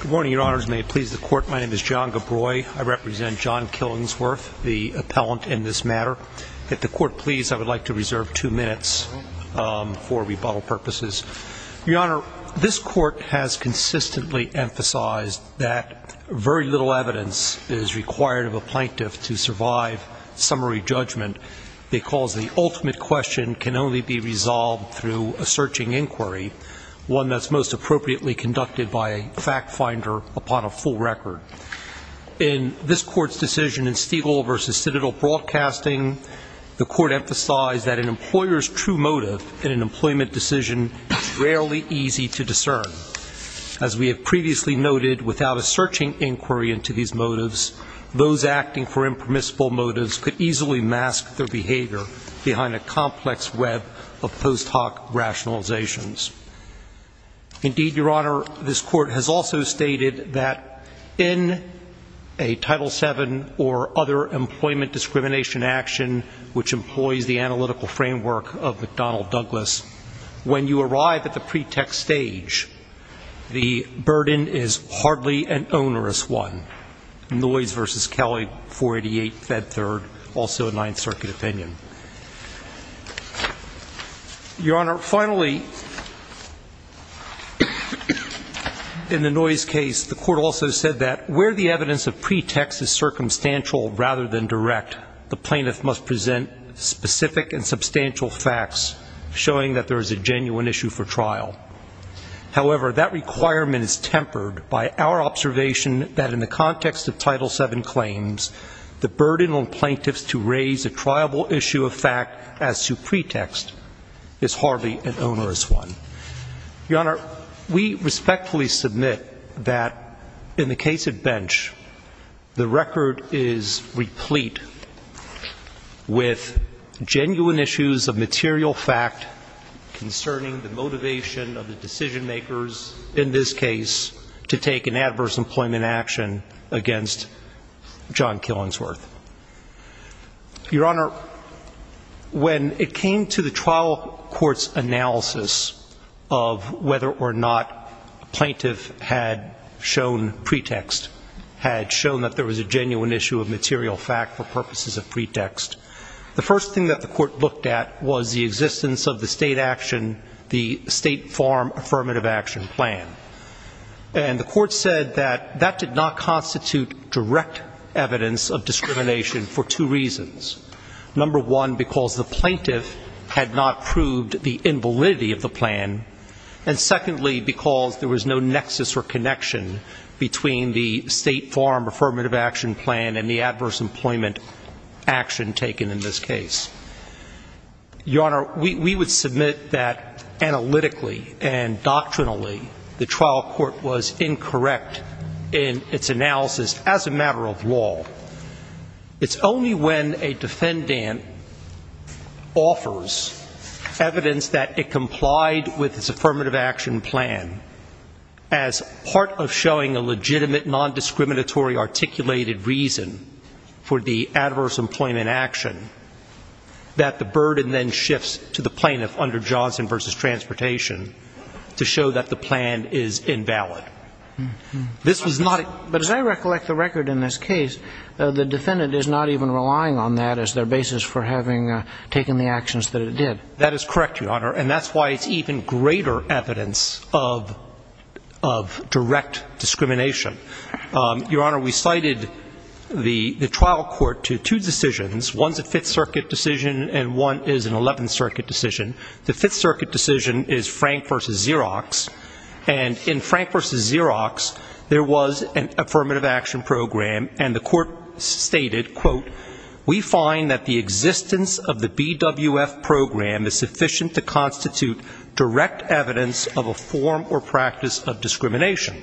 Good morning, Your Honors. May it please the Court, my name is John Gabroi. I represent John Killingsworth, the appellant in this matter. If the Court please, I would like to reserve two minutes for rebuttal purposes. Your Honor, this Court has consistently emphasized that very little evidence is required of a plaintiff to survive summary judgment because the ultimate question can only be resolved through a searching inquiry, one that's most appropriately conducted by a fact finder upon a full record. In this Court's decision in Stiegel v. Citadel Broadcasting, the Court emphasized that an employer's true motive in an employment decision is rarely easy to discern. As we have previously noted, without a searching inquiry into these motives, those acting for impermissible motives could easily mask their behavior behind a complex web of post hoc rationalizations. Indeed, Your Honor, this Court has also stated that in a Title VII or other employment discrimination action which employs the analytical framework of McDonnell Douglas, when you arrive at the pretext stage, the burden is hardly an onerous one. Noyes v. Kelly, 488 Fed Third, also in Ninth Circuit opinion. Your Honor, finally, in the Noyes case, the Court also said that where the evidence of pretext is circumstantial rather than direct, the plaintiff must present specific and substantial facts showing that there is a genuine issue for trial. However, that requirement is tempered by our observation that in the context of Title VII claims, the triable issue of fact as to pretext is hardly an onerous one. Your Honor, we respectfully submit that in the case of Bench, the record is replete with genuine issues of material fact concerning the motivation of the decision makers in this case to take an adverse employment action against John Killingsworth. Your Honor, when it came to the trial court's analysis of whether or not a plaintiff had shown pretext, had shown that there was a genuine issue of material fact for purposes of pretext, the first thing that the Court looked at was the existence of the state action, the State Farm Affirmative Action Plan. And the Court said that that did not constitute direct evidence of discrimination for two reasons. Number one, because the plaintiff had not proved the invalidity of the plan. And secondly, because there was no nexus or connection between the State Farm Affirmative Action Plan and the adverse employment action taken in this case. Your Honor, we would submit that analytically and doctrinally, the trial court was incorrect in its analysis as a matter of law. It's only when a defendant offers evidence that it complied with its Affirmative Action Plan as part of showing a legitimate non-discriminatory articulated reason for the adverse employment action, that the burden then shifts to the plaintiff under Johnson v. Transportation to show that the plan is invalid. This was not a... But as I recollect the record in this case, the defendant is not even relying on that as their basis for having taken the actions that it did. That is correct, Your Honor. And that's why it's even greater evidence of direct discrimination. Your Honor, there are two cases in the Fifth Circuit decision and one is an Eleventh Circuit decision. The Fifth Circuit decision is Frank v. Xerox. And in Frank v. Xerox, there was an Affirmative Action Program and the court stated, quote, we find that the existence of the BWF program is sufficient to constitute direct evidence of a form or practice of discrimination.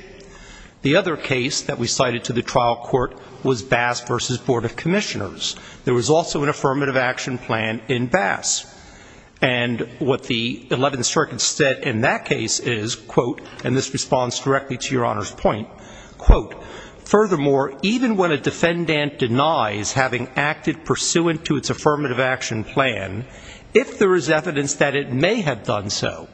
The other case that we cited to the trial court was Bass v. Board of Commissioners. There was also an Affirmative Action Plan in Bass. And what the Eleventh Circuit said in that case is, quote, and this responds directly to Your Honor's point, quote, furthermore, even when a defendant denies having acted pursuant to its Affirmative Action Plan, if there is evidence that it may have done so,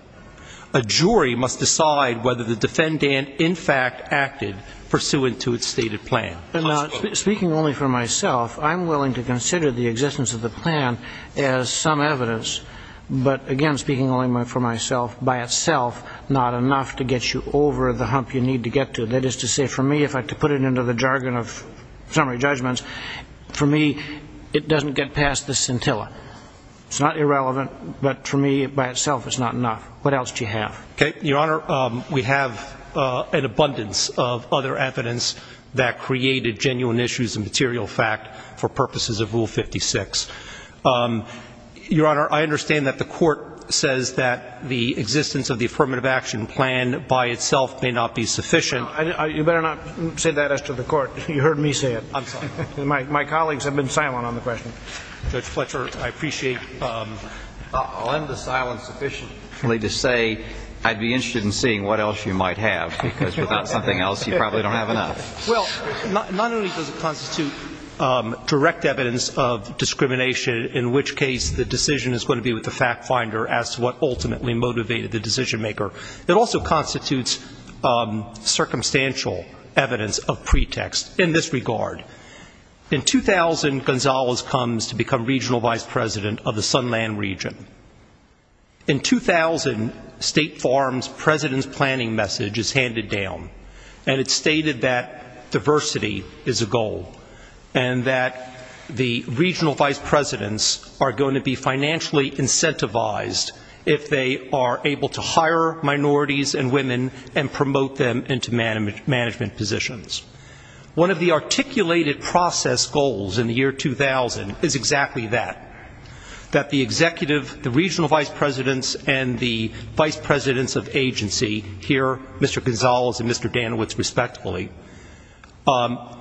a jury must decide whether the defendant in fact acted pursuant to its stated plan. And now, speaking only for myself, I'm willing to consider the existence of the plan as some evidence. But again, speaking only for myself, by itself, not enough to get you over the hump you need to get to. That is to say, for me, if I could put it into the jargon of summary judgments, for me, it doesn't get past the scintilla. It's not irrelevant, but for me, by itself, it's not enough. What else do you have? Okay. Your Honor, we have an abundance of other evidence that created genuine issues of material fact for purposes of Rule 56. Your Honor, I understand that the Court says that the existence of the Affirmative Action Plan by itself may not be sufficient. No. You better not say that as to the Court. You heard me say it. I'm sorry. My colleagues have been silent on the question. Judge Fletcher, I appreciate the silence sufficiently to say I'd be interested in seeing what else you might have, because without something else, you probably don't have enough. Well, not only does it constitute direct evidence of discrimination, in which case the decision is going to be with the fact finder as to what ultimately motivated the decision maker. It also constitutes circumstantial evidence of pretext in this regard. In 2000, Gonzalez comes to become regional vice president of the Sunland region. In 2000, State Farm's president's planning message is handed down, and it's stated that diversity is a goal, and that the regional vice presidents are going to be financially incentivized if they are able to hire minorities and women and promote them into management positions. One of the articulated process goals in the year 2000 is exactly that, that the executive, the regional vice presidents and the vice presidents of agency here, Mr. Gonzalez and Mr. Danowitz respectively,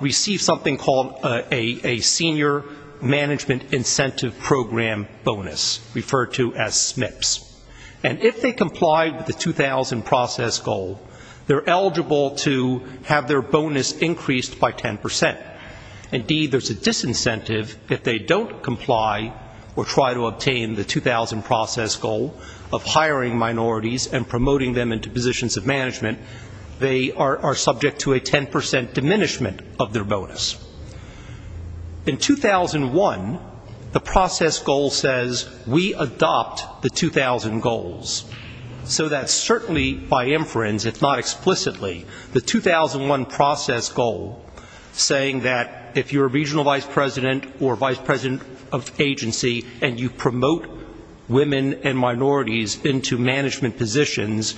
receive something called a senior management incentive program bonus, referred to as SMIPS. And if they comply with the 2000 process goal, they're eligible to have their bonus increased by 10%. Indeed, there's a disincentive if they don't comply or try to obtain the 2000 process goal of hiring minorities and promoting them into positions of management, they are subject to a 10% diminishment of their bonus. In 2001, the process goal says, we adopt the 2000 goals. So that's certainly by inference, if not explicitly, the 2001 process goal saying that if you're a regional vice president or vice president of agency and you promote women and minorities into management positions,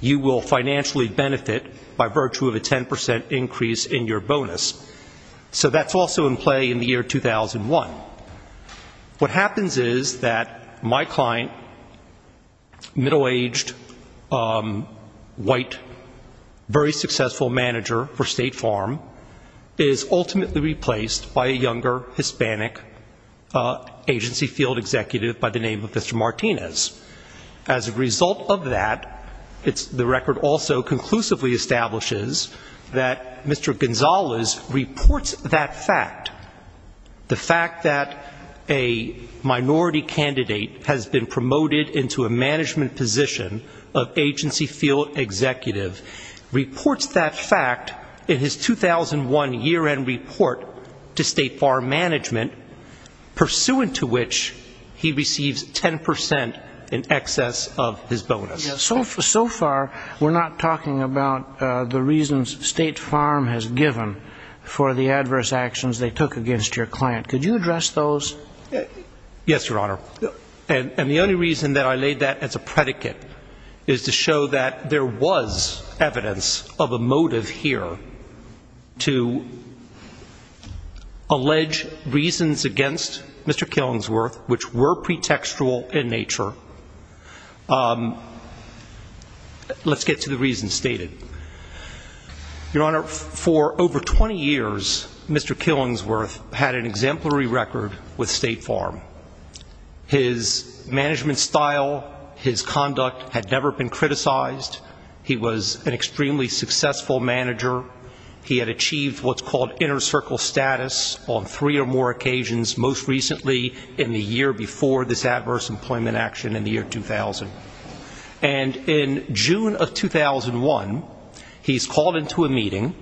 you will financially benefit by virtue of a 10% increase in your bonus. So that's also in play in the year 2001. What happens is that my client, middle-aged, white, very successful manager for State Farm, is ultimately replaced by a younger Hispanic agency field executive by the name of Mr. Martinez. As a result of that, the record also conclusively establishes that Mr. Gonzalez reports that fact. The fact that a minority candidate has been promoted into a management position of agency field executive reports that fact in his 2001 year-end report to State Farm management, pursuant to which he receives 10% in excess of his bonus. So far, we're not talking about the reasons State Farm has given for the adverse actions they took against your client. Could you address those? Yes, Your Honor. And the only reason that I laid that as a predicate is to show that there was evidence of a motive here to allege reasons against Mr. Killingsworth which were pretextual in nature. Let's get to the reasons stated. Your Honor, for over 20 years, Mr. Killingsworth had an exemplary record with State Farm. His management style, his conduct had never been criticized. He was an extremely successful manager. He had achieved what's called inner circle status on three or more occasions, most recently in the year before this adverse employment action in the year 2000. And in June of 2001, he's called into a meeting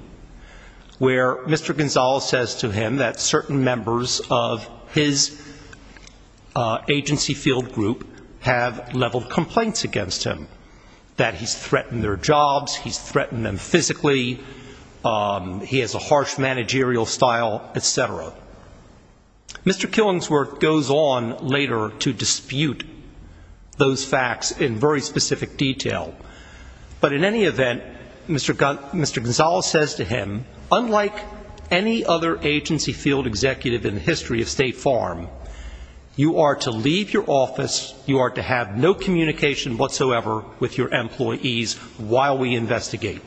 where Mr. Gonzalez says to him that certain members of his agency field group have leveled complaints against him, that he's threatened their jobs, he's threatened them physically, he has a harsh managerial style, etc. Mr. Killingsworth goes on later to dispute those facts in very specific detail. But in any event, Mr. Gonzalez says to him, unlike any other agency field executive in the history of State Farm, you are to leave your office, you are to have no communication whatsoever with your employees while we investigate.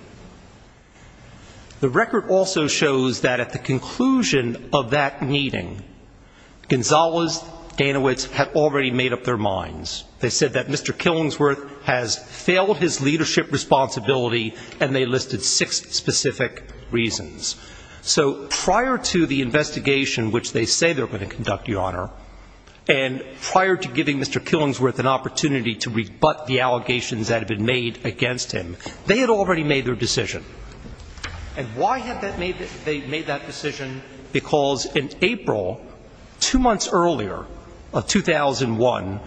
The record also shows that at the conclusion of that meeting, Gonzalez, Danowitz had already made up their minds. They said that Mr. Killingsworth has failed his leadership responsibility and they listed six specific reasons. So prior to the investigation which they say they're going to conduct, Your Honor, and prior to giving Mr. Killingsworth an opportunity to rebut the allegations that had been made against him, they had already made their decision. And why had they made that decision? Because in April, two months earlier of 2001,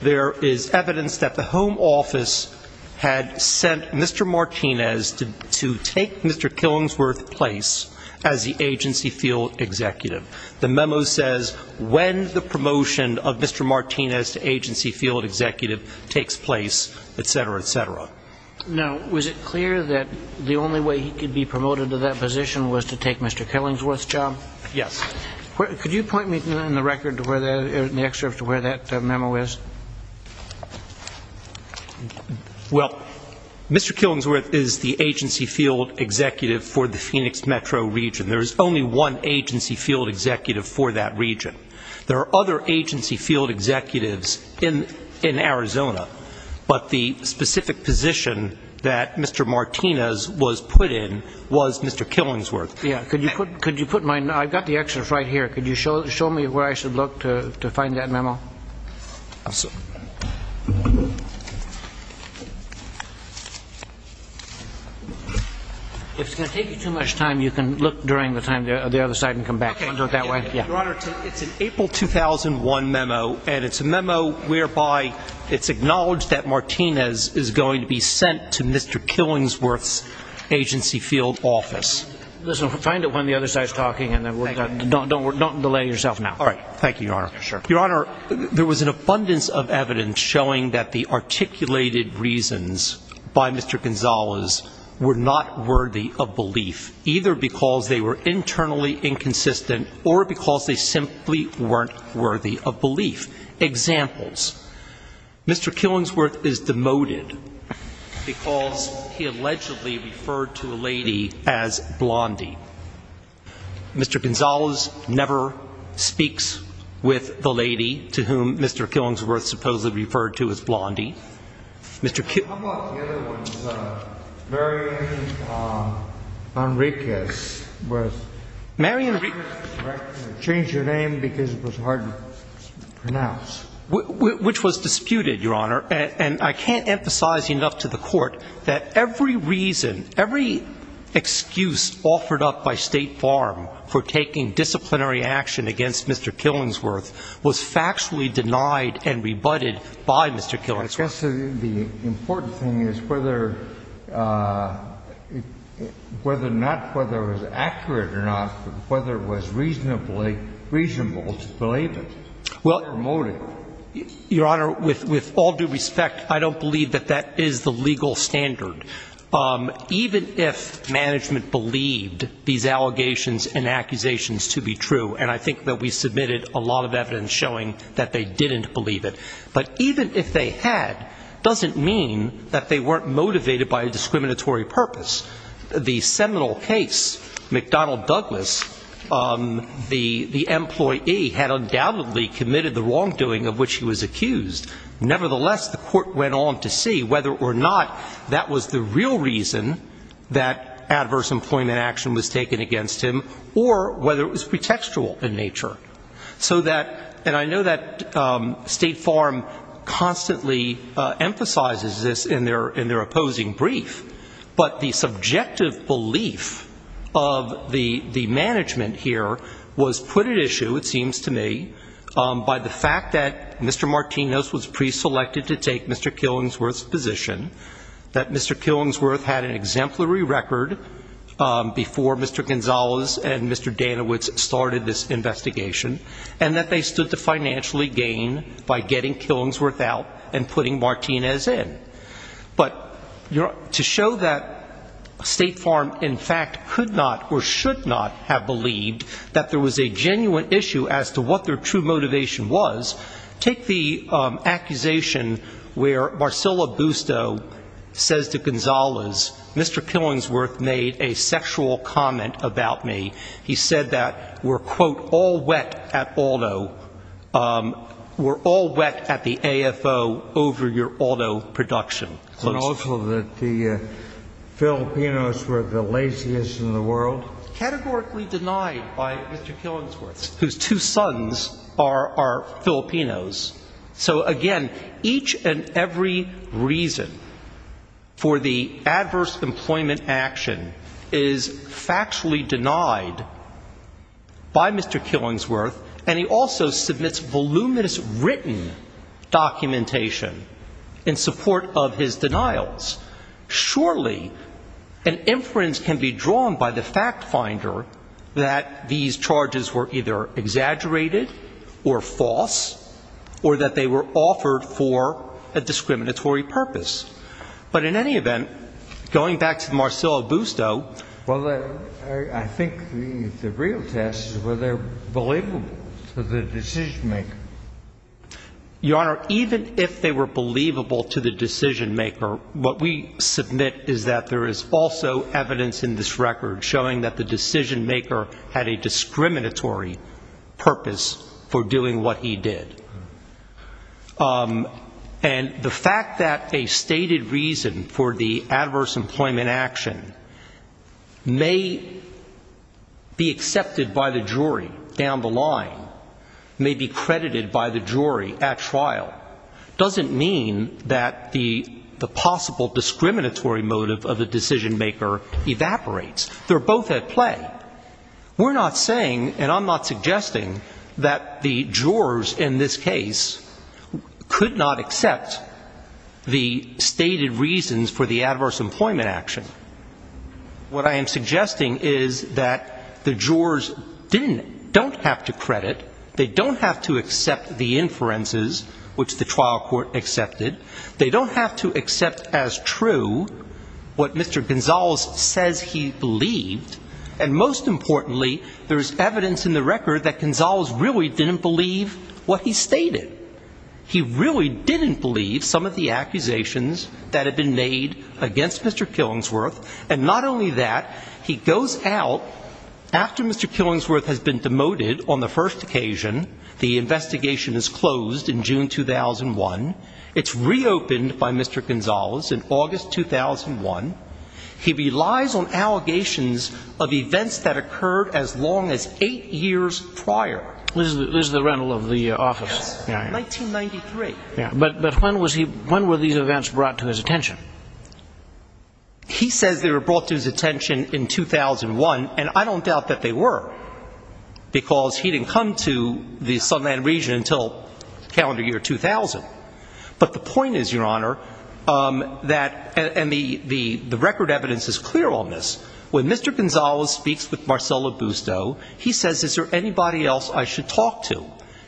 there is evidence that the home office had sent Mr. Martinez to take Mr. Killingsworth's place as the agency field executive. The memo says when the promotion of Mr. Martinez to agency field executive takes place, etc., etc. Now, was it clear that the only way he could be promoted to that position was to take Mr. Killingsworth's job? Yes. Could you point me in the record to where that, in the excerpt, to where that memo is? Well, Mr. Killingsworth is the agency field executive for the Phoenix metro region. There is only one agency field executive for that region. There are other agency field executives in Arizona, but the specific position that Mr. Martinez was put in was Mr. Killingsworth's. Yeah. Could you put my, I've got the excerpt right here. Could you show me where I should look to find that memo? If it's going to take you too much time, you can look during the time, the other side and come back. Okay. Do you want to do it that way? Yeah. Your Honor, it's an April 2001 memo, and it's a memo whereby it's acknowledged that Martinez is going to be sent to Mr. Killingsworth's agency field office. Listen, find it when the other side is talking, and then we're done. Don't delay yourself now. All right. Thank you, Your Honor. Yeah, sure. Your Honor, there was an abundance of evidence showing that the articulated reasons by Mr. Gonzales were not worthy of belief, either because they were internally inconsistent or because they simply weren't worthy of belief. Examples. Mr. Killingsworth is demoted because he allegedly referred to a lady as blondie. Mr. Gonzales never speaks with a woman who is a woman. Mr. Killingsworth never speaks with the lady to whom Mr. Killingsworth supposedly referred to as blondie. How about the other one, Marianne Enriquez? Marianne Enriquez. I changed your name because it was hard to pronounce. Which was disputed, Your Honor. And I can't emphasize enough to the Court that every reason, every excuse offered up by State Farm for taking disciplinary action against Mr. Killingsworth was factually denied and rebutted by Mr. Killingsworth. I guess the important thing is whether not whether it was accurate or not, whether it was reasonably reasonable to believe it. Well, Your Honor, with all due respect, I don't believe that that is the legal standard. Even if management believed these allegations and accusations to be true, and I think that we submitted a lot of evidence showing that they didn't believe it, but even if they had, doesn't mean that they weren't motivated by a discriminatory purpose. The seminal case, McDonnell Douglas, the employee had undoubtedly committed the wrongdoing of which he was accused. Nevertheless, the Court went on to see whether or not that was the real reason that adverse employment action was taken against him or whether it was pretextual in nature. So that, and I know that State Farm constantly emphasizes this in their opposing brief, but the subjective belief of the management here was put at issue, it seems to me, by the fact that Mr. Martinez was preselected to take Mr. Killingsworth's position, that Mr. Killingsworth had an exemplary record before Mr. Gonzalez and Mr. Danawitz started this investigation, and that they stood to financially gain by getting Killingsworth out and putting Martinez in. But to show that State Farm in fact could not or should not have believed that there was a genuine issue as to what their true motivation was, take the accusation where Marcela Busto says to Gonzalez, Mr. Killingsworth made a sexual comment about me. He said that we're, quote, all wet at Aldo, we're all wet at the AFO over your Aldo production. And also that the Filipinos were the laziest in the world. Categorically denied by Mr. Killingsworth. Whose two sons are Filipinos. So again, each and every reason for the adverse employment action is factually denied by Mr. Killingsworth, and he also submits voluminous written documentation in support of his denials. Surely, an inference can be drawn by the fact finder that these charges were either exaggerated or false, or that they were offered for a discriminatory purpose. But in any event, going back to Marcela Busto. Well, I think the real test is whether they're believable to the decision maker. Your Honor, even if they were believable to the decision maker, what we submit is that there is also evidence in this record showing that the decision maker had a discriminatory purpose for doing what he did. And the fact that a stated reason for the adverse employment action may be accepted by the jury down the line, may be credited by the jury at trial, doesn't mean that the possible discriminatory motive of the decision maker evaporates. They're both at play. We're not saying, and I'm not suggesting, that the jurors in this case could not accept the stated reasons for the adverse employment action. What I am suggesting is that the jurors don't have to credit. They don't have to accept the inferences, which the trial court accepted. They don't have to accept as true what Mr. Gonzales says he believed. And most importantly, there's evidence in the record that Gonzales really didn't believe what he stated. He really didn't believe some of the accusations that had been made against Mr. Killingsworth. And not only that, he goes out after Mr. Killingsworth has been demoted on the first occasion. The investigation is closed in June 2001. It's reopened by Mr. Gonzales in August 2001. He relies on allegations of events that occurred as long as eight years prior. This is the rental of the office. Yes, 1993. But when were these events brought to his attention? He says they were brought to his attention in 2001, and I don't doubt that they were, because he didn't come to the Sunland region until calendar year 2000. But the point is, Your Honor, and the record evidence is clear on this. When Mr. Gonzales speaks with Marcella Busto, he says, is there anybody else I should talk to?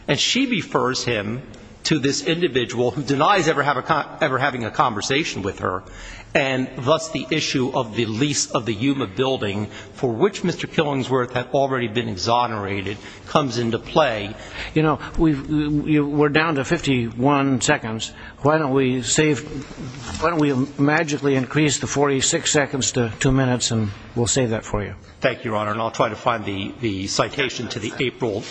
And she refers him to this individual who denies ever having a conversation with her, and thus the issue of the lease of the Yuma building, for which Mr. Killingsworth had already been exonerated, comes into play. You know, we're down to 51 seconds. Why don't we magically increase the 46 seconds to two minutes, and we'll save that for you. Thank you, Your Honor, and I'll try to find the citation to the April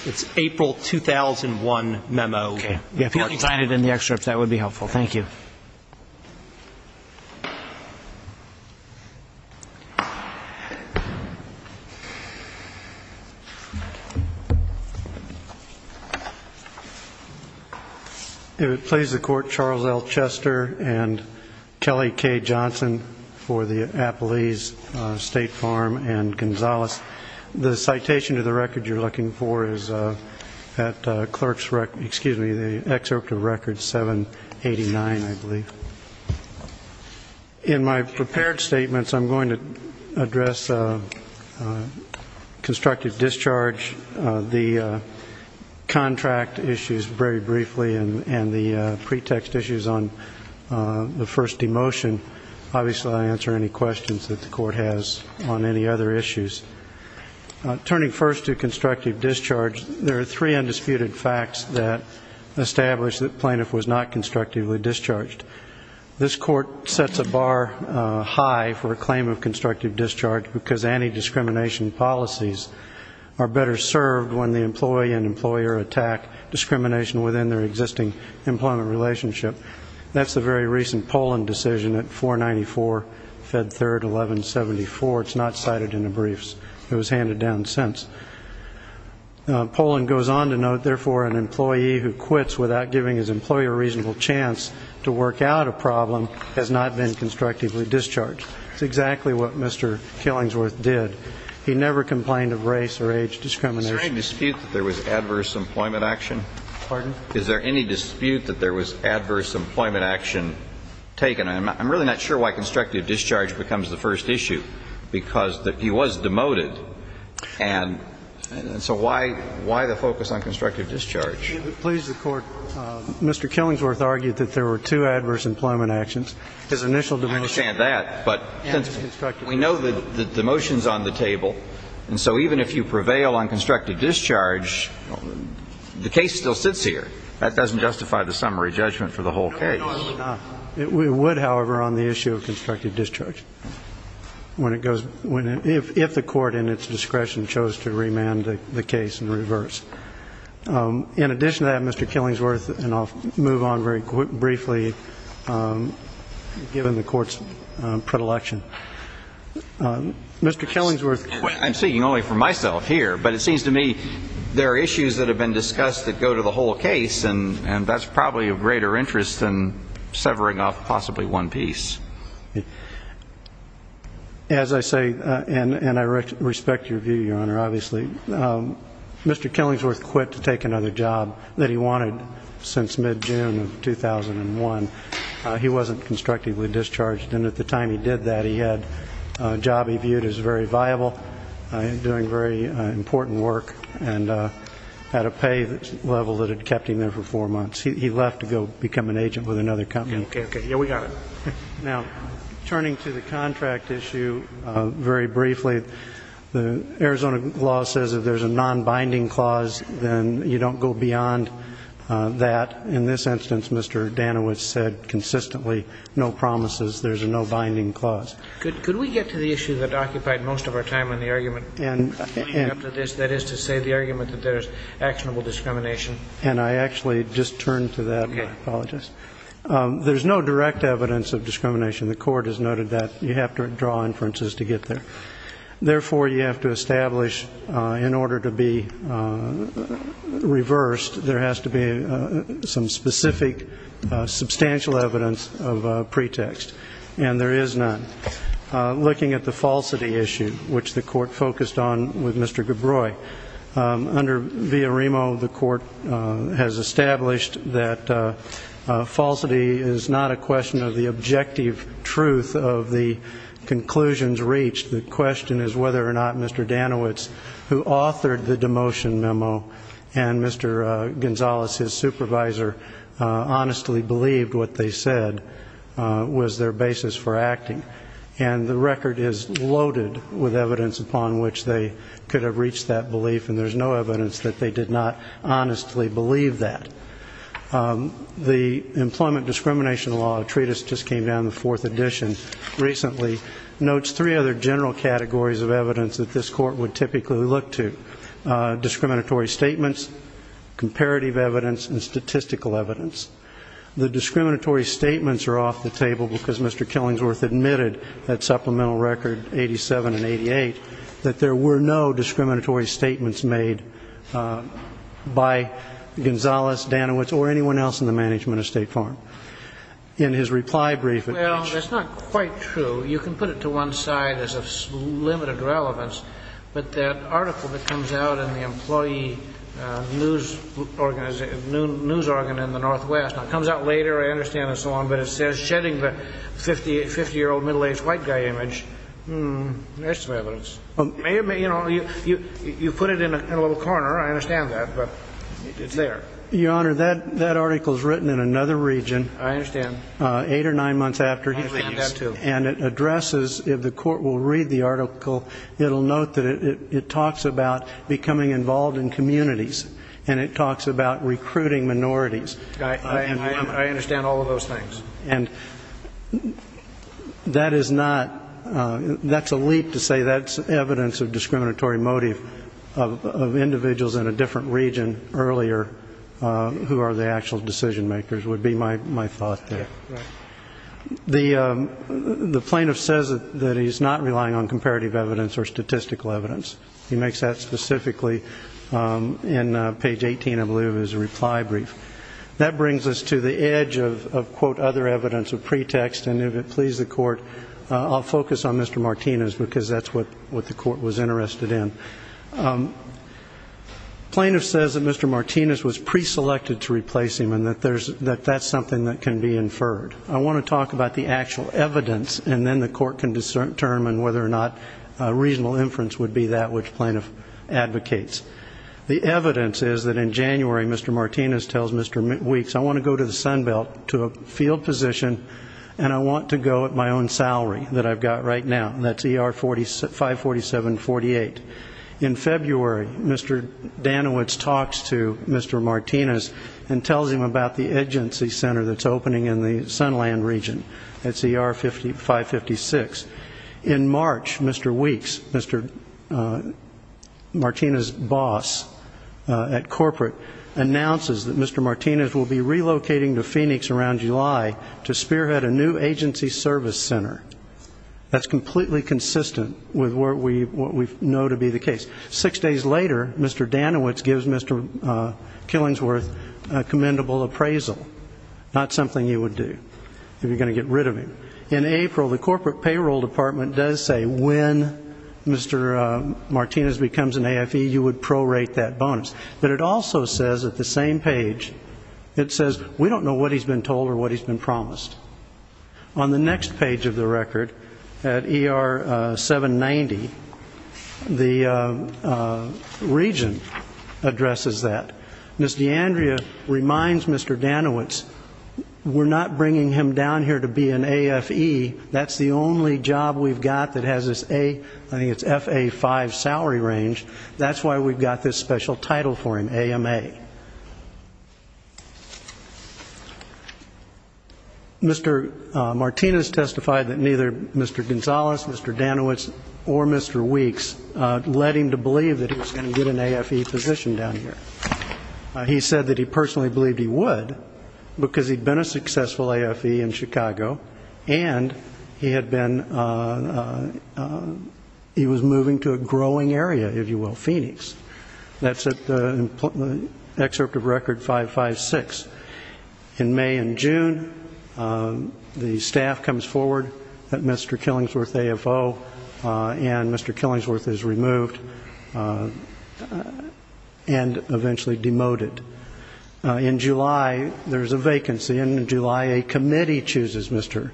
2001 memo. If you could find it in the excerpts, that would be helpful. Thank you. If it pleases the Court, Charles L. Chester and Kelly K. Johnson for the Appalese State Farm and Gonzales. The citation to the record you're looking for is at clerk's record, excuse me, the excerpt of record 789, I believe. In my prepared statements, I'm going to address constructive discharge. The contract issues very briefly and the pretext issues on the first demotion. Obviously, I'll answer any questions that the Court has on any other issues. Turning first to constructive discharge, there are three undisputed facts that establish that plaintiff was not constructively discharged. This Court sets a bar high for a claim of constructive discharge because anti-discrimination policies are better served when the employee and employer attack discrimination within their existing employment relationship. That's the very recent Poland decision at 494, Fed 3rd, 1174. It's not cited in the briefs. It was handed down since. Poland goes on to note, therefore, an employee who quits without giving his employer a reasonable chance to work out a problem has not been constructively discharged. That's exactly what Mr. Killingsworth did. He never complained of race or age discrimination. Is there any dispute that there was adverse employment action? Pardon? Is there any dispute that there was adverse employment action taken? I'm really not sure why constructive discharge becomes the first issue because he was demoted. And so why the focus on constructive discharge? Please, the Court, Mr. Killingsworth argued that there were two adverse employment actions. I understand that, but since we know that the motion is on the table, and so even if you prevail on constructive discharge, the case still sits here. That doesn't justify the summary judgment for the whole case. It would, however, on the issue of constructive discharge if the Court in its discretion chose to remand the case in reverse. In addition to that, Mr. Killingsworth, and I'll move on very briefly, given the Court's predilection. Mr. Killingsworth. I'm speaking only for myself here, but it seems to me there are issues that have been discussed that go to the whole case, and that's probably of greater interest than severing off possibly one piece. As I say, and I respect your view, Your Honor, obviously, Mr. Killingsworth quit to take another job that he wanted since mid-June of 2001. He wasn't constructively discharged, and at the time he did that, he had a job he viewed as very viable, doing very important work, and had a pay level that had kept him there for four months. He left to go become an agent with another company. Okay, okay, yeah, we got it. Now, turning to the contract issue very briefly, the Arizona law says that if there's a non-binding clause, then you don't go beyond that. In this instance, Mr. Danowitz said consistently, no promises, there's a no-binding clause. Could we get to the issue that occupied most of our time in the argument? That is to say the argument that there's actionable discrimination. And I actually just turned to that, and I apologize. There's no direct evidence of discrimination. The court has noted that you have to draw inferences to get there. Therefore, you have to establish, in order to be reversed, there has to be some specific substantial evidence of pretext. And there is none. Looking at the falsity issue, which the court focused on with Mr. Gabroi, under Villarimo, the court has established that falsity is not a question of the objective truth of the conclusions reached. The question is whether or not Mr. Danowitz, who authored the demotion memo and Mr. Gonzales, his supervisor, honestly believed what they said was their basis for acting. And the record is loaded with evidence upon which they could have reached that belief, and there's no evidence that they did not honestly believe that. The Employment Discrimination Law Treatise just came down in the fourth edition recently, notes three other general categories of evidence that this court would typically look to. Discriminatory statements, comparative evidence, and statistical evidence. The discriminatory statements are off the table because Mr. Killingsworth admitted at Supplemental Record 87 and 88 that there were no discriminatory statements made by Gonzales, Danowitz, or anyone else in the management of State Farm. In his reply brief... Well, that's not quite true. You can put it to one side as of limited relevance, but that article that comes out in the employee news organ in the Northwest, it comes out later, I understand, and so on, but it says shedding the 50-year-old middle-aged white guy image, hmm, there's some evidence. You put it in a little corner, I understand that, but it's there. Your Honor, that article is written in another region. I understand. Eight or nine months after he leaves. I understand that, too. And it addresses, if the court will read the article, it'll note that it talks about becoming involved in communities, and it talks about recruiting minorities. I understand all of those things. And that is not... That's a leap to say that's evidence of discriminatory motive of individuals in a different region earlier who are the actual decision-makers would be my thought there. The plaintiff says that he's not relying on comparative evidence or statistical evidence. He makes that specifically in page 18, I believe, of his reply brief. That brings us to the edge of, quote, other evidence of pretext, and if it pleases the court, I'll focus on Mr. Martinez because that's what the court was interested in. Plaintiff says that Mr. Martinez was pre-selected to replace him and that that's something that can be inferred. I want to talk about the actual evidence and then the court can determine whether or not reasonable inference would be that which plaintiff advocates. The evidence is that in January, Mr. Martinez tells Mr. Weeks, I want to go to the Sunbelt, to a field position, and I want to go at my own salary that I've got right now. That's ER 547-48. In February, Mr. Danowitz talks to Mr. Martinez and tells him about the agency center that's opening in the Sunland region. That's ER 556. In March, Mr. Weeks, Mr. Martinez's boss at corporate, announces that Mr. Martinez will be relocating to Phoenix around July to spearhead a new agency service center. That's completely consistent with what we know to be the case. Six days later, Mr. Danowitz gives Mr. Killingsworth a commendable appraisal, not something he would do if you're going to get rid of him. In April, the corporate payroll department does say when Mr. Martinez becomes an AFE, you would prorate that bonus. But it also says at the same page, it says, we don't know what he's been told or what he's been promised. On the next page of the record, at ER 790, the region addresses that. Ms. D'Andrea reminds Mr. Danowitz, we're not bringing him down here to be an AFE. That's the only job we've got that has this FA-5 salary range. That's why we've got this special title for him, AMA. Mr. Martinez testified that neither Mr. Gonzalez, Mr. Danowitz, or Mr. Weeks led him to believe that he was going to get an AFE position down here. He said that he personally believed he would because he'd been a successful AFE in Chicago and he had been, he was moving to a growing area, if you will, Phoenix. That's at the excerpt of Record 556. In May and June, the staff comes forward that Mr. Killingsworth AFO and Mr. Killingsworth is removed and eventually demoted. In July, there's a vacancy, and in July, a committee chooses Mr.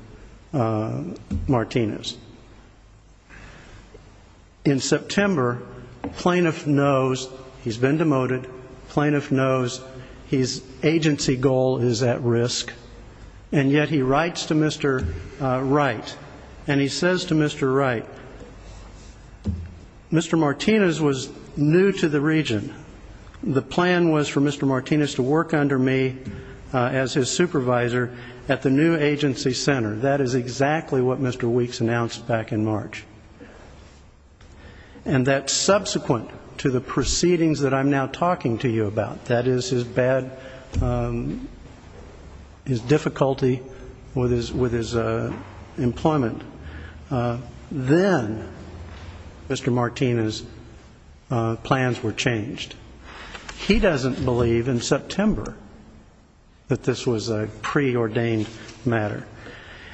Martinez. In September, plaintiff knows he's been demoted, plaintiff knows his agency goal is at risk, and yet he writes to Mr. Wright, and he says to Mr. Wright, Mr. Martinez was new to the region. The plan was for Mr. Martinez to work under me as his supervisor at the new agency center. That is exactly what Mr. Weeks announced back in March. And that subsequent to the proceedings that I'm now talking to you about, that is his bad, his difficulty with his employment, then Mr. Martinez' plans were changed. He doesn't believe in September that this was a preordained matter.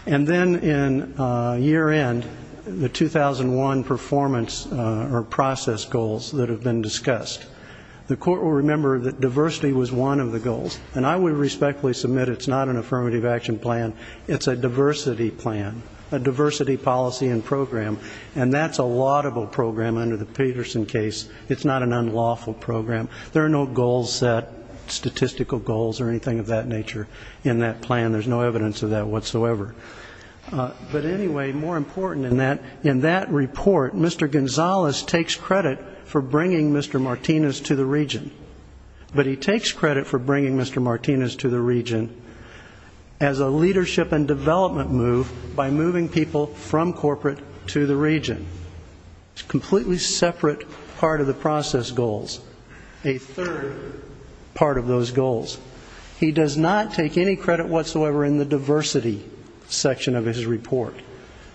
And then in year end, the 2001 performance or process goals that have been discussed. The court will remember that diversity was one of the goals, and I would respectfully submit it's not an affirmative action plan, it's a diversity plan, a diversity policy and program, and that's a laudable program under the Peterson case. It's not an unlawful program. There are no goals set, statistical goals or anything of that nature in that plan. There's no evidence of that whatsoever. But anyway, more important than that, in that report, Mr. Gonzalez takes credit for bringing Mr. Martinez to the region. But he takes credit for bringing Mr. Martinez to the region as a leadership and development move by moving people from corporate to the region. It's a completely separate part of the process goals, a third part of those goals. He does not take any credit whatsoever in the diversity section of his report.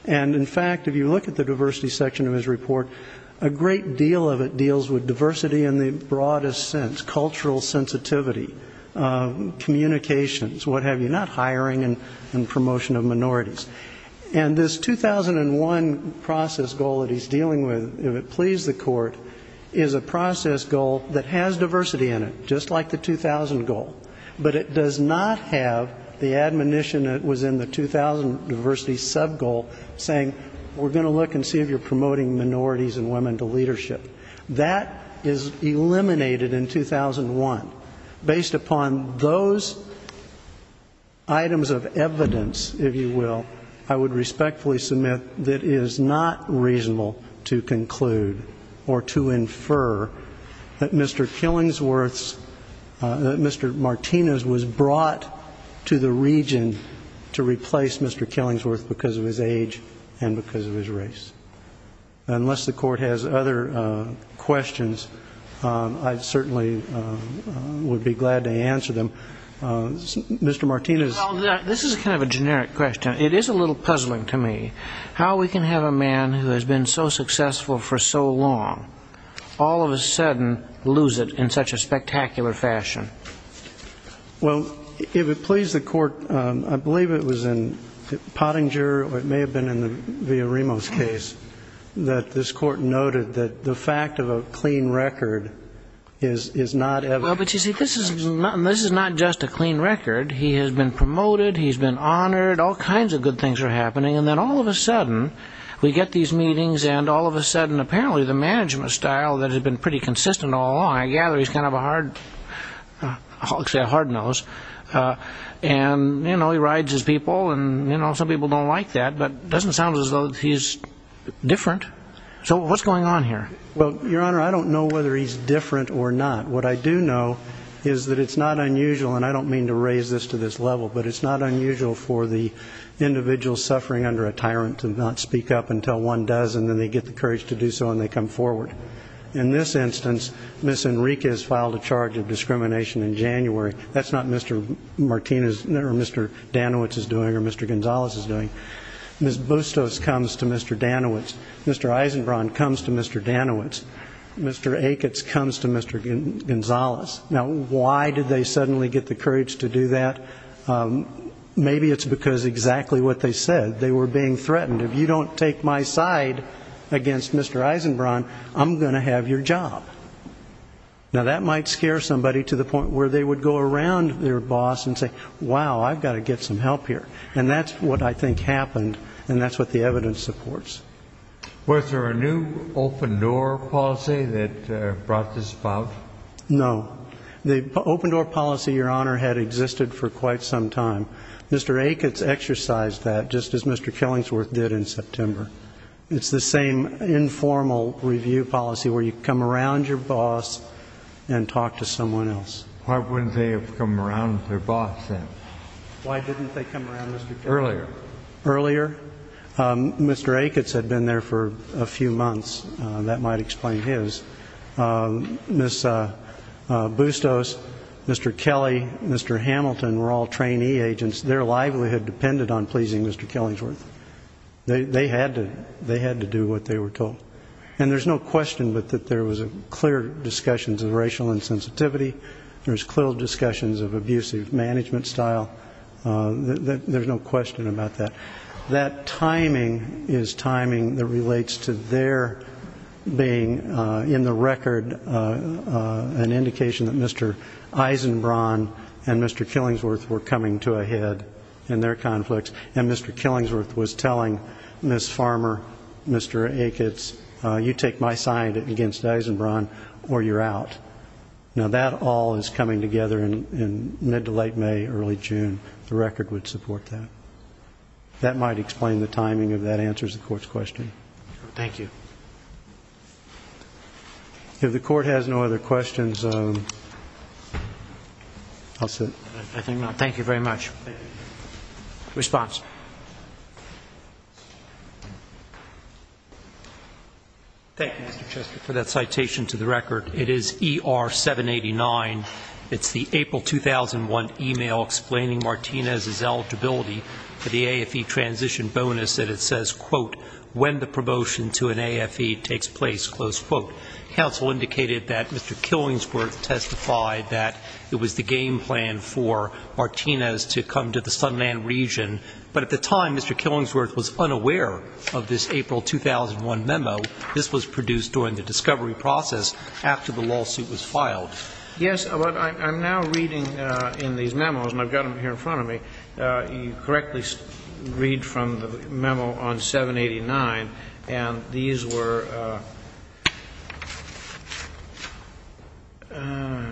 And in fact, if you look at the diversity section of his report, a great deal of it deals with diversity in the broadest sense, cultural sensitivity, communications, what have you, not hiring and promotion of minorities. And this 2001 process goal that he's dealing with, if it pleases the court, is a process goal that has diversity in it, just like the 2000 goal, but it does not have the admonition that was in the 2000 diversity subgoal saying, we're going to look and see if you're promoting minorities and women to leadership. That is eliminated in 2001 Based upon those items of evidence, if you will, I would respectfully submit that it is not reasonable to conclude or to infer that Mr. Killingsworth's, that Mr. Martinez's was brought to the region to replace Mr. Killingsworth because of his age and because of his race. Unless the court has other questions, I certainly would be glad to answer them. Mr. Martinez... Well, this is kind of a generic question. It is a little puzzling to me. How we can have a man who has been so successful for so long all of a sudden lose it in such a spectacular fashion? Well, if it pleased the court, I believe it was in Pottinger, or it may have been in Villarimo's case, that this court noted that the fact of a clean record is not ever... Well, but you see, this is not just a clean record. He has been promoted, he's been honored, all kinds of good things are happening, and then all of a sudden we get these meetings and all of a sudden apparently the management style that has been pretty consistent all along, I gather he's kind of a hard, I'll say a hard nose, and he rides his people, and some people don't like that, but it doesn't sound as though he's different. So what's going on here? Well, Your Honor, I don't know whether he's different or not. What I do know is that it's not unusual, and I don't mean to raise this to this level, but it's not unusual for the individual suffering under a tyrant to not speak up until one does, and then they get the courage to do so and they come forward. In this instance, Ms. Enriquez filed a charge of discrimination in January. That's not Mr. Danowitz's doing or Mr. Gonzalez's doing. Ms. Bustos comes to Mr. Danowitz. Mr. Eisenbraun comes to Mr. Danowitz. Mr. Aikens comes to Mr. Gonzalez. Now, why did they suddenly get the courage to do that? Maybe it's because exactly what they said. They were being threatened. If you don't take my side against Mr. Eisenbraun, I'm going to have your job. Now, that might scare somebody to the point where they would go around their boss and say, and that's what the evidence supports. Was there a new open-door policy that brought this about? No. The open-door policy, Your Honor, had existed for quite some time. Mr. Aikens exercised that, just as Mr. Kellingsworth did in September. It's the same informal review policy where you come around your boss and talk to someone else. Why wouldn't they have come around their boss then? Why didn't they come around Mr. Kellingsworth? Earlier. Earlier? Mr. Aikens had been there for a few months. That might explain his. Ms. Bustos, Mr. Kelly, Mr. Hamilton were all trainee agents. Their livelihood depended on pleasing Mr. Kellingsworth. They had to do what they were told. And there's no question that there was clear discussions of racial insensitivity. There was clear discussions of abusive management style. There's no question about that. That timing is timing that relates to their being in the record an indication that Mr. Eisenbraun and Mr. Kellingsworth were coming to a head in their conflicts. And Mr. Kellingsworth was telling Ms. Farmer, Mr. Aikens, you take my side against Eisenbraun or you're out. Now, that all is coming together in mid to late May, early June. The record would support that. That might explain the timing if that answers the court's question. Thank you. If the court has no other questions... I'll sit. Thank you very much. Response. Thank you, Mr. Chester, for that citation to the record. It is ER-789. It's the April 2001 email explaining Martinez's eligibility for the AFE transition bonus that it says, quote, when the promotion to an AFE takes place, close quote. Counsel indicated that Mr. Kellingsworth testified that it was the game plan for Martinez to come to the Sunland region. But at the time, Mr. Kellingsworth was unaware of this April 2001 memo. This was produced during the discovery process after the lawsuit was filed. Yes, but I'm now reading in these memos, and I've got them here in front of me. You correctly read from the memo on 789, and these were... Ah,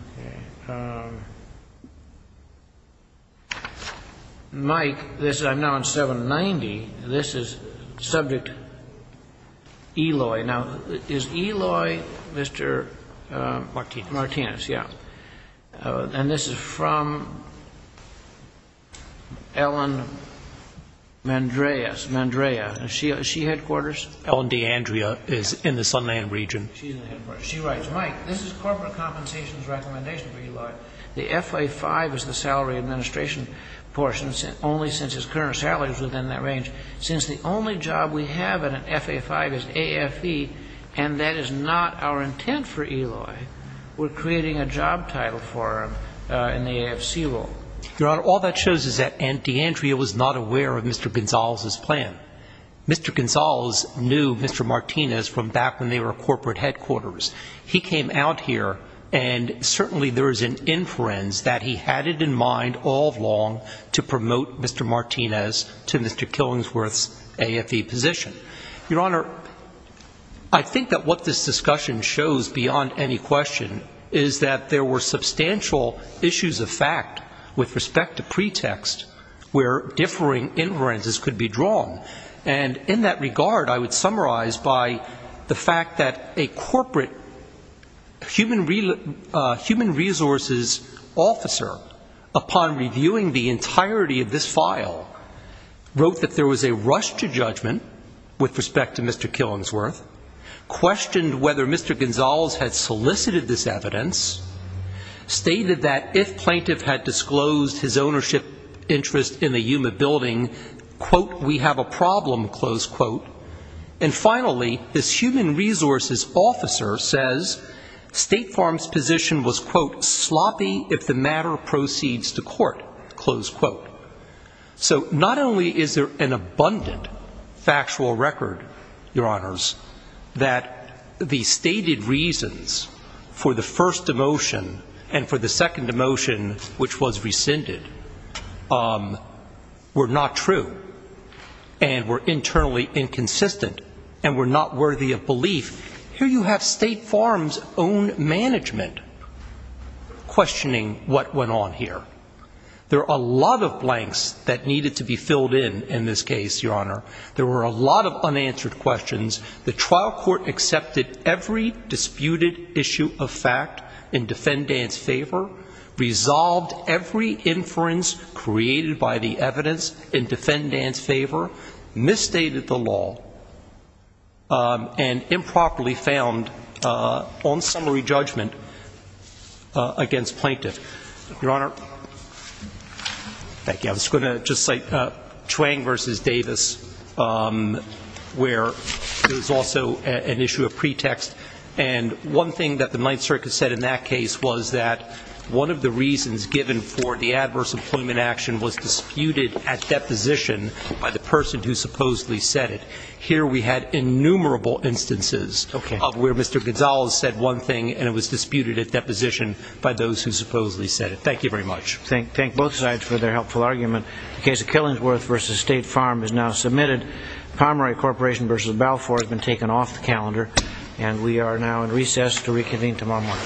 okay. Mike, this is... I'm now on 790. This is subject Eloy. Now, is Eloy Mr.? Martinez. Martinez, yeah. And this is from... Ellen Mandreas. Is she headquarters? Ellen D'Andrea is in the Sunland region. She's in the headquarters. She writes, Mike, this is corporate compensations recommendation for Eloy. The FA-5 is the salary administration portion, only since his current salary is within that range. Since the only job we have in an FA-5 is AFE, and that is not our intent for Eloy, we're creating a job title for him in the AFC role. Your Honor, all that shows is that D'Andrea was not aware of Mr. Gonzalez's plan. Mr. Gonzalez knew Mr. Martinez from back when they were corporate headquarters. He came out here, and certainly there is an inference that he had it in mind all along to promote Mr. Martinez to Mr. Killingsworth's AFE position. Your Honor, I think that what this discussion shows beyond any question is that there were substantial issues of fact with respect to pretext where differing inferences could be drawn. And in that regard, I would summarize by the fact that a corporate human resources officer, upon reviewing the entirety of this file, wrote that there was a rush to judgment with respect to Mr. Killingsworth, questioned whether Mr. Gonzalez had solicited this evidence, stated that if plaintiff had disclosed his ownership interest in the Yuma building, quote, we have a problem, close quote. State Farm's position was, quote, only if the matter proceeds to court, close quote. So not only is there an abundant factual record, Your Honors, that the stated reasons for the first demotion and for the second demotion, which was rescinded, um, were not true and were internally inconsistent and were not worthy of belief. Here you have State Farm's own management questioning what went on here. There are a lot of blanks that needed to be filled in in this case, Your Honor. There were a lot of unanswered questions. The trial court accepted every disputed issue of fact in defendant's favor, resolved every inference created by the evidence in defendant's favor, misstated the law, um, and improperly found, uh, on summary judgment against plaintiff. Your Honor? Thank you. I was going to just cite, uh, Chuang v. Davis, um, where there's also an issue of pretext and one thing that the Ninth Circuit said in that case was that one of the reasons given for the adverse employment action was disputed at deposition by the person who supposedly said it. Here we had innumerable instances of where Mr. Gonzales said one thing and it was disputed at deposition by those who supposedly said it. Thank you very much. Thank both sides for their helpful argument. The case of Killingsworth v. State Farm is now submitted. Pomeroy Corporation v. Balfour has been taken off the calendar and we are now in recess to reconvene tomorrow morning.